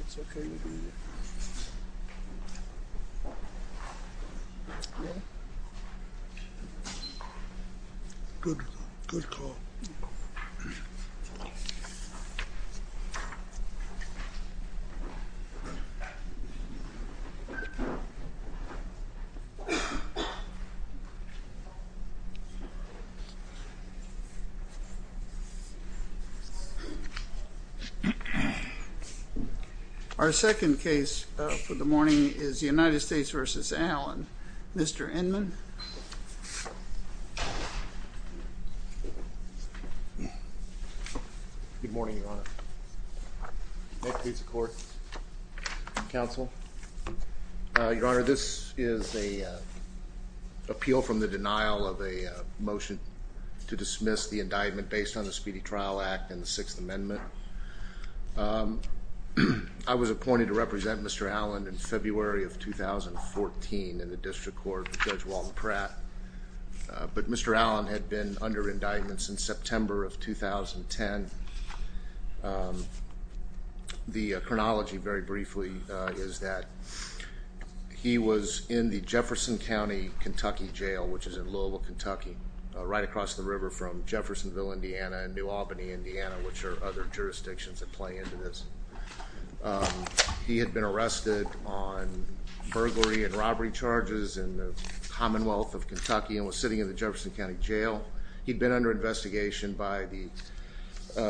It's okay, it'll be alright. Good call. Good call. Very good. Yep effect. Our second case for the morning is the United States versus Allen, Mr. Inman. Good morning, Your Honor. Next case of court, counsel. Your Honor, this is an appeal from the denial of a motion to dismiss the indictment based on the Speedy Trial Act and the Sixth Amendment. I was appointed to represent Mr. Allen in February of 2014 in the District Court with Judge Walton Pratt, but Mr. Allen had been under indictment since September of 2010. The chronology, very briefly, is that he was in the Jefferson County, Kentucky jail, which is in Louisville, Kentucky, right across the river from Jeffersonville, Indiana and New Jurisdictions that play into this. He had been arrested on burglary and robbery charges in the Commonwealth of Kentucky and was sitting in the Jefferson County Jail. He'd been under investigation by the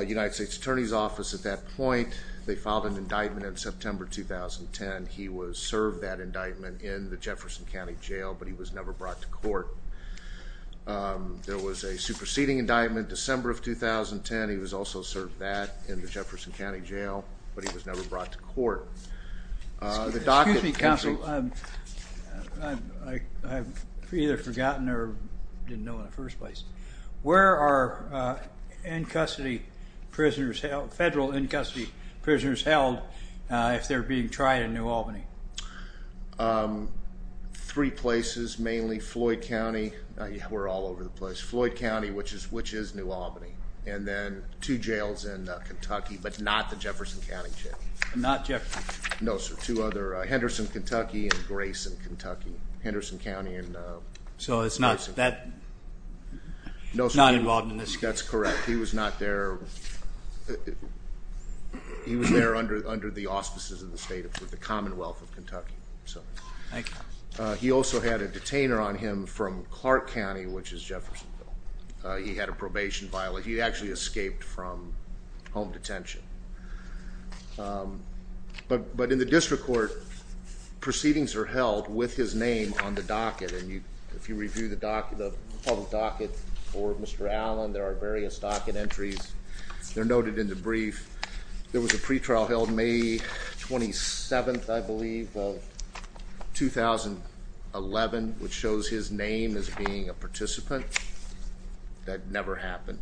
United States Attorney's Office at that point. They filed an indictment in September 2010. He was served that indictment in the Jefferson County Jail, but he was never brought to court. There was a superseding indictment December of 2010. He was also served that in the Jefferson County Jail, but he was never brought to court. The docket... Excuse me, counsel. I've either forgotten or didn't know in the first place. Where are federal in-custody prisoners held if they're being tried in New Albany? Three places, mainly Floyd County. We're all over the place. Floyd County, which is New Albany. And then two jails in Kentucky, but not the Jefferson County Jail. Not Jefferson? No, sir. Two other. Henderson, Kentucky and Grayson, Kentucky. Henderson County and Grayson. So it's not that... No, sir. It's not involved in this case. That's correct. He was not there... He was there under the auspices of the Commonwealth of Kentucky. So... Thank you. He also had a detainer on him from Clark County, which is Jeffersonville. He had a probation violation. He actually escaped from home detention. But in the district court, proceedings are held with his name on the docket, and if you review the public docket for Mr. Allen, there are various docket entries. They're noted in the brief. There was a pretrial held May 27th, I believe, of 2011, which shows his name as being a participant. That never happened.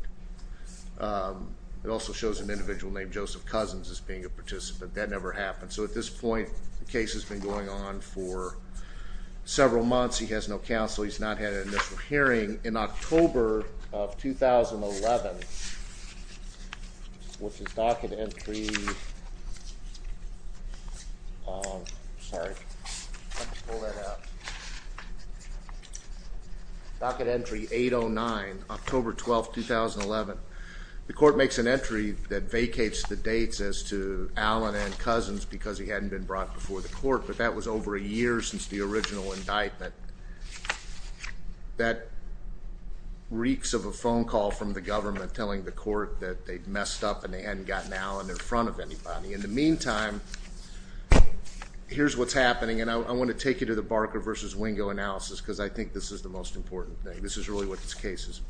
It also shows an individual named Joseph Cousins as being a participant. That never happened. So at this point, the case has been going on for several months. He has no counsel. He's not had an initial hearing. In October of 2011, which is docket entry 809, October 12th, 2011, the court makes an entry that vacates the dates as to Allen and Cousins because he hadn't been brought before the court. But that was over a year since the original indictment. That reeks of a phone call from the government telling the court that they'd messed up and they hadn't gotten Allen in front of anybody. In the meantime, here's what's happening, and I want to take you to the Barker v. Wingo analysis because I think this is the most important thing. This is really what this case is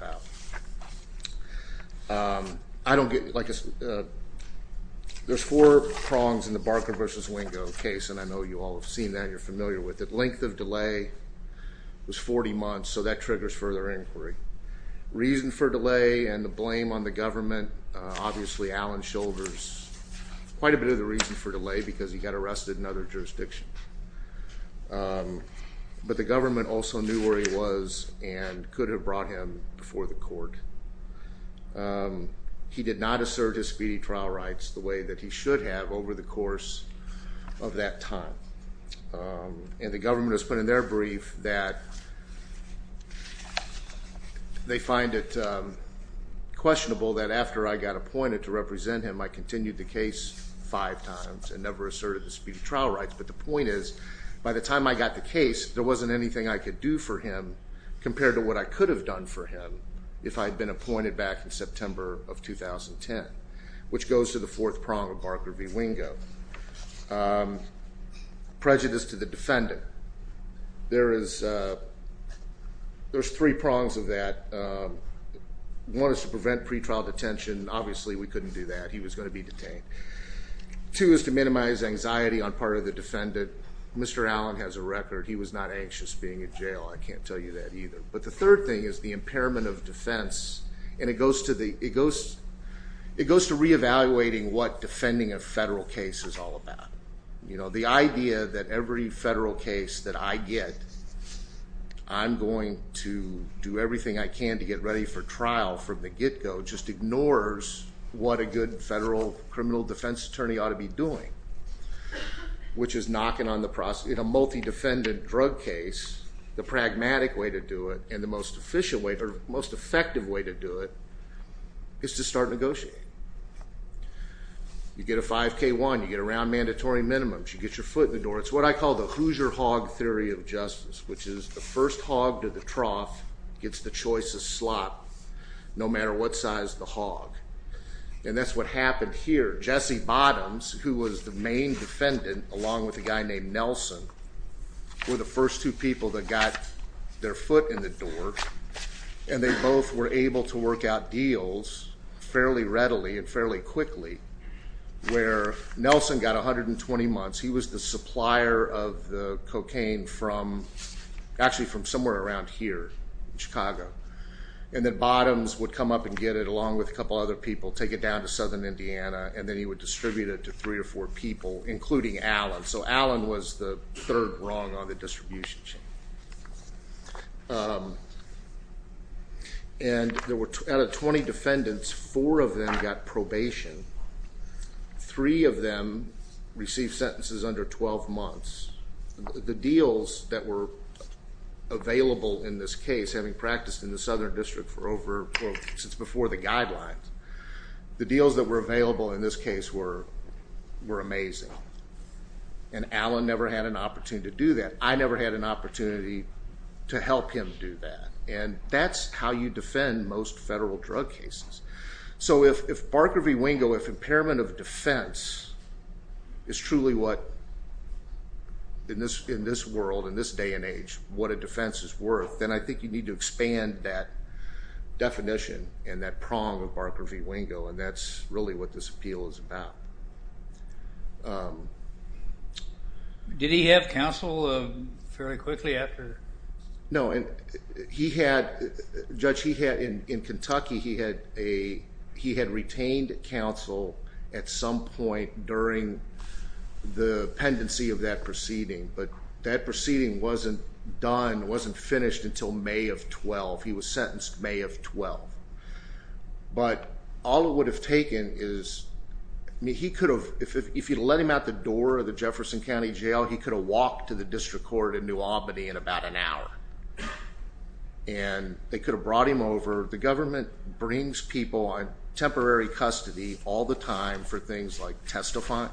about. There's four prongs in the Barker v. Wingo case, and I know you all have seen that, you're familiar with it. Length of delay was 40 months, so that triggers further inquiry. Reason for delay and the blame on the government, obviously, Allen shoulders quite a bit of the reason for delay because he got arrested in other jurisdictions. But the government also knew where he was and could have brought him before the court. He did not assert his speedy trial rights the way that he should have over the course of that time, and the government has put in their brief that they find it questionable that after I got appointed to represent him, I continued the case five times and never asserted the speedy trial rights. But the point is, by the time I got the case, there wasn't anything I could do for him compared to what I could have done for him if I had been appointed back in September of 2010, which goes to the fourth prong of Barker v. Wingo. Prejudice to the defendant, there's three prongs of that. One is to prevent pretrial detention, obviously we couldn't do that, he was going to be detained. Two is to minimize anxiety on part of the defendant. Mr. Allen has a record, he was not anxious being in jail, I can't tell you that either. But the third thing is the impairment of defense, and it goes to re-evaluating what defending a federal case is all about. The idea that every federal case that I get, I'm going to do everything I can to get ready for trial from the get-go, just ignores what a good federal criminal defense attorney ought to be doing, which is knocking on the process, in a multi-defendant drug case, the pragmatic way to do it and the most effective way to do it is to start negotiating. You get a 5K1, you get a round mandatory minimum, you get your foot in the door, it's what I call the Hoosier hog theory of justice, which is the first hog to the trough gets the choice of slot, no matter what size the hog, and that's what happened here. Jesse Bottoms, who was the main defendant, along with a guy named Nelson, were the first two people that got their foot in the door, and they both were able to work out deals fairly readily and fairly quickly, where Nelson got 120 months, he was the supplier of the And then Bottoms would come up and get it along with a couple other people, take it down to southern Indiana, and then he would distribute it to three or four people, including Allen. So Allen was the third rung on the distribution chain. And out of 20 defendants, four of them got probation, three of them received sentences under 12 months. The deals that were available in this case, having practiced in the southern district for over, since before the guidelines, the deals that were available in this case were amazing. And Allen never had an opportunity to do that. I never had an opportunity to help him do that. And that's how you defend most federal drug cases. So if Barker v. Wingo, if impairment of defense is truly what, in this world, in this day and age, what a defense is worth, then I think you need to expand that definition and that prong of Barker v. Wingo, and that's really what this appeal is about. Did he have counsel fairly quickly after? No, and he had, Judge, in Kentucky, he had retained counsel at some point during the pendency of that proceeding, but that proceeding wasn't done, wasn't finished until May of 12. He was sentenced May of 12. But all it would have taken is, I mean, he could have, if you let him out the door of an hour, and they could have brought him over. The government brings people on temporary custody all the time for things like testifying.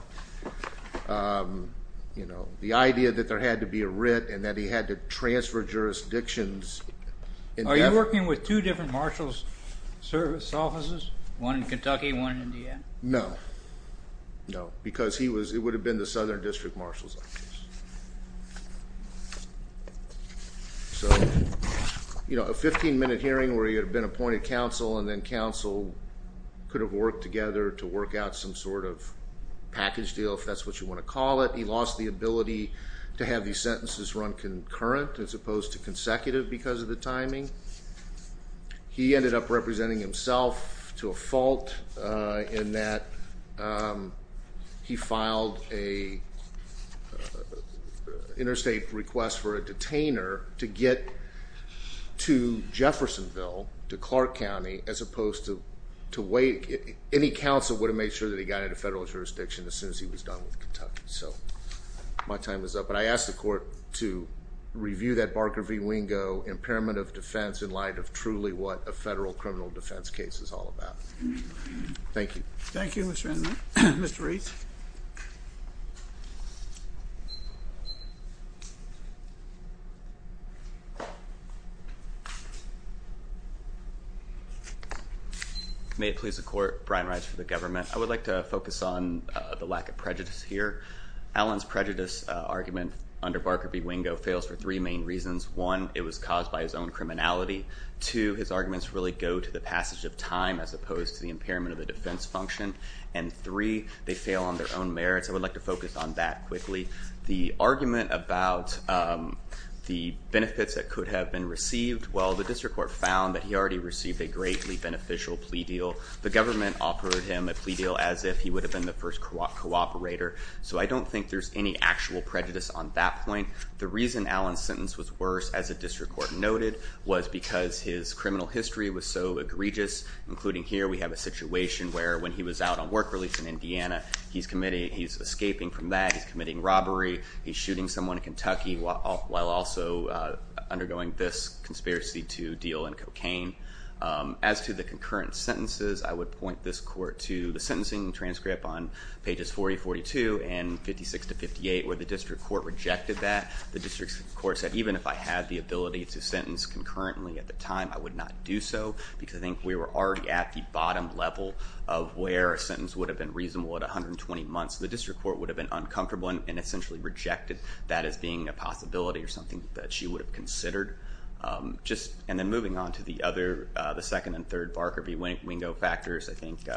The idea that there had to be a writ, and that he had to transfer jurisdictions. Are you working with two different Marshals Service offices, one in Kentucky, one in Indiana? No. No, because he was, it would have been the Southern District Marshals Office. So, you know, a 15-minute hearing where he had been appointed counsel and then counsel could have worked together to work out some sort of package deal, if that's what you want to call it. He lost the ability to have these sentences run concurrent as opposed to consecutive because of the timing. He ended up representing himself to a fault in that he filed an interstate request for a detainer to get to Jeffersonville, to Clark County, as opposed to wait, any counsel would have made sure that he got into federal jurisdiction as soon as he was done with Kentucky, so my time is up. But I ask the court to review that Barker v. Wingo impairment of defense in light of truly what a federal criminal defense case is all about. Thank you. Thank you, Mr. Randolph. Mr. Reitz. May it please the court, Brian Reitz for the government. I would like to focus on the lack of prejudice here. Alan's prejudice argument under Barker v. Wingo fails for three main reasons. One, it was caused by his own criminality. Two, his arguments really go to the passage of time as opposed to the impairment of the defense function. And three, they fail on their own merits. I would like to focus on that quickly. The argument about the benefits that could have been received, well, the district court found that he already received a greatly beneficial plea deal. The government offered him a plea deal as if he would have been the first cooperator, so I don't think there's any actual prejudice on that point. The reason Alan's sentence was worse, as the district court noted, was because his criminal history was so egregious, including here we have a situation where when he was out on work release in Indiana, he's escaping from that, he's committing robbery, he's shooting someone in Kentucky while also undergoing this conspiracy to deal in cocaine. As to the concurrent sentences, I would point this court to the sentencing transcript on page 52 and 56 to 58 where the district court rejected that. The district court said even if I had the ability to sentence concurrently at the time, I would not do so because I think we were already at the bottom level of where a sentence would have been reasonable at 120 months. The district court would have been uncomfortable and essentially rejected that as being a possibility or something that she would have considered. And then moving on to the other, the second and third Barker v. Wingo factors, I think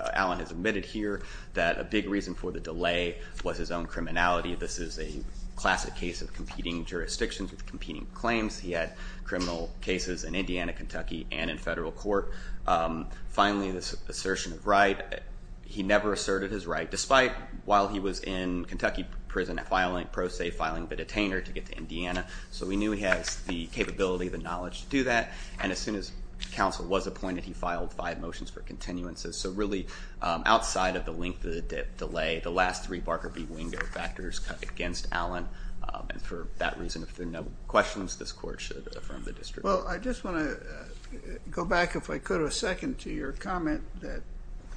a big reason for the delay was his own criminality. This is a classic case of competing jurisdictions with competing claims. He had criminal cases in Indiana, Kentucky, and in federal court. Finally this assertion of right, he never asserted his right, despite while he was in Kentucky prison filing pro se, filing the detainer to get to Indiana. So we knew he has the capability, the knowledge to do that. And as soon as counsel was appointed, he filed five motions for continuances. So really, outside of the length of the delay, the last three Barker v. Wingo factors against Allen. And for that reason, if there are no questions, this court should affirm the district court. Well, I just want to go back, if I could, a second to your comment that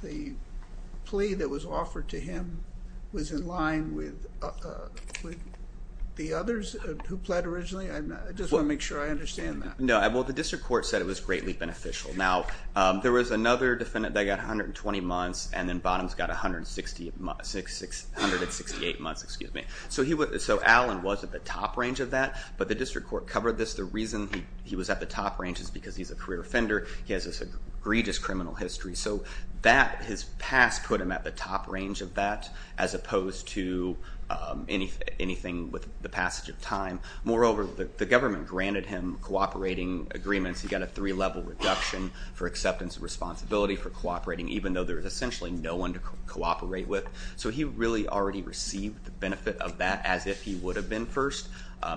the plea that was offered to him was in line with the others who pled originally. I just want to make sure I understand that. No, well the district court said it was greatly beneficial. Now, there was another defendant that got 120 months, and then Bottoms got 168 months. So Allen was at the top range of that, but the district court covered this. The reason he was at the top range is because he's a career offender, he has this egregious criminal history. So that, his past, put him at the top range of that, as opposed to anything with the passage of time. Moreover, the government granted him cooperating agreements. He got a three-level reduction for acceptance of responsibility for cooperating, even though there was essentially no one to cooperate with. So he really already received the benefit of that, as if he would have been first.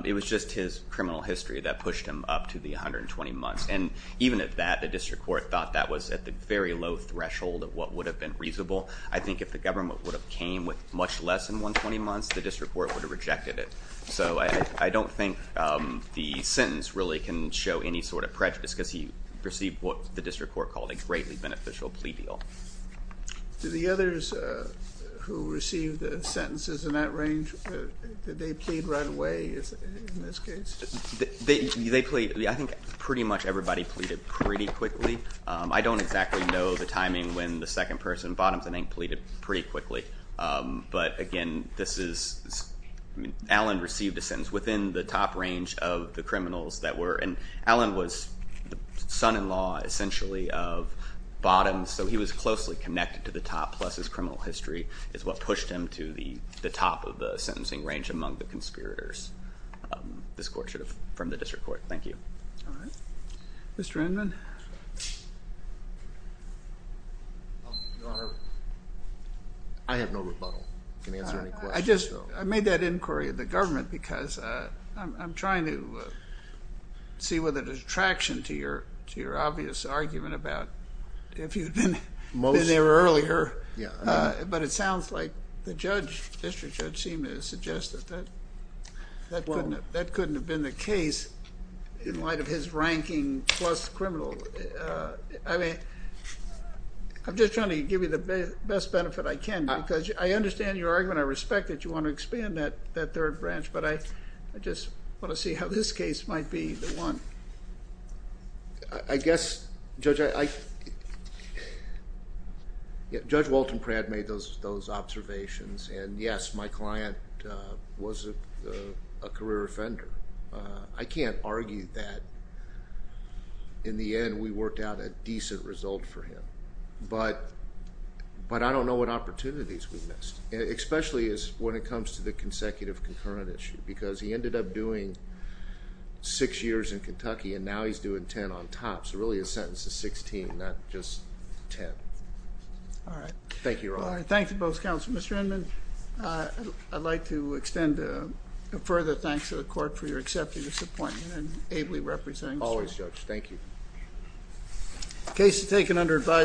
It was just his criminal history that pushed him up to the 120 months. And even at that, the district court thought that was at the very low threshold of what would have been reasonable. I think if the government would have came with much less than 120 months, the district court would have rejected it. So I don't think the sentence really can show any sort of prejudice, because he received what the district court called a greatly beneficial plea deal. Do the others who received the sentences in that range, did they plead right away in this case? They pleaded. I think pretty much everybody pleaded pretty quickly. I don't exactly know the timing when the second person, Bottoms, I think, pleaded pretty quickly. But again, this is, I mean, Allen received a sentence within the top range of the criminals that were, and Allen was the son-in-law, essentially, of Bottoms, so he was closely connected to the top, plus his criminal history is what pushed him to the top of the sentencing range among the conspirators. This court should have, from the district court. Thank you. All right. Mr. Inman? Your Honor, I have no rebuttal. I can answer any questions. I just, I made that inquiry of the government, because I'm trying to see whether there's traction to your obvious argument about if you'd been there earlier, but it sounds like the judge, district judge, seemed to suggest that that couldn't have been the case in light of his ranking plus criminal. I mean, I'm just trying to give you the best benefit I can, because I understand your argument. I respect that you want to expand that third branch, but I just want to see how this case might be the one. I guess, Judge, Judge Walton Pratt made those observations, and yes, my client was a career offender. I can't argue that, in the end, we worked out a decent result for him, but I don't know what opportunities we missed, especially when it comes to the consecutive concurrent issue, because he ended up doing six years in Kentucky, and now he's doing ten on top, so really his sentence is sixteen, not just ten. All right. Thank you, Your Honor. All right. Thank you both, counsel. Mr. Endman, I'd like to extend a further thanks to the court for your acceptance of this appointment and ably representing Mr. Endman. Always, Judge. Thank you. The case is taken under advisory.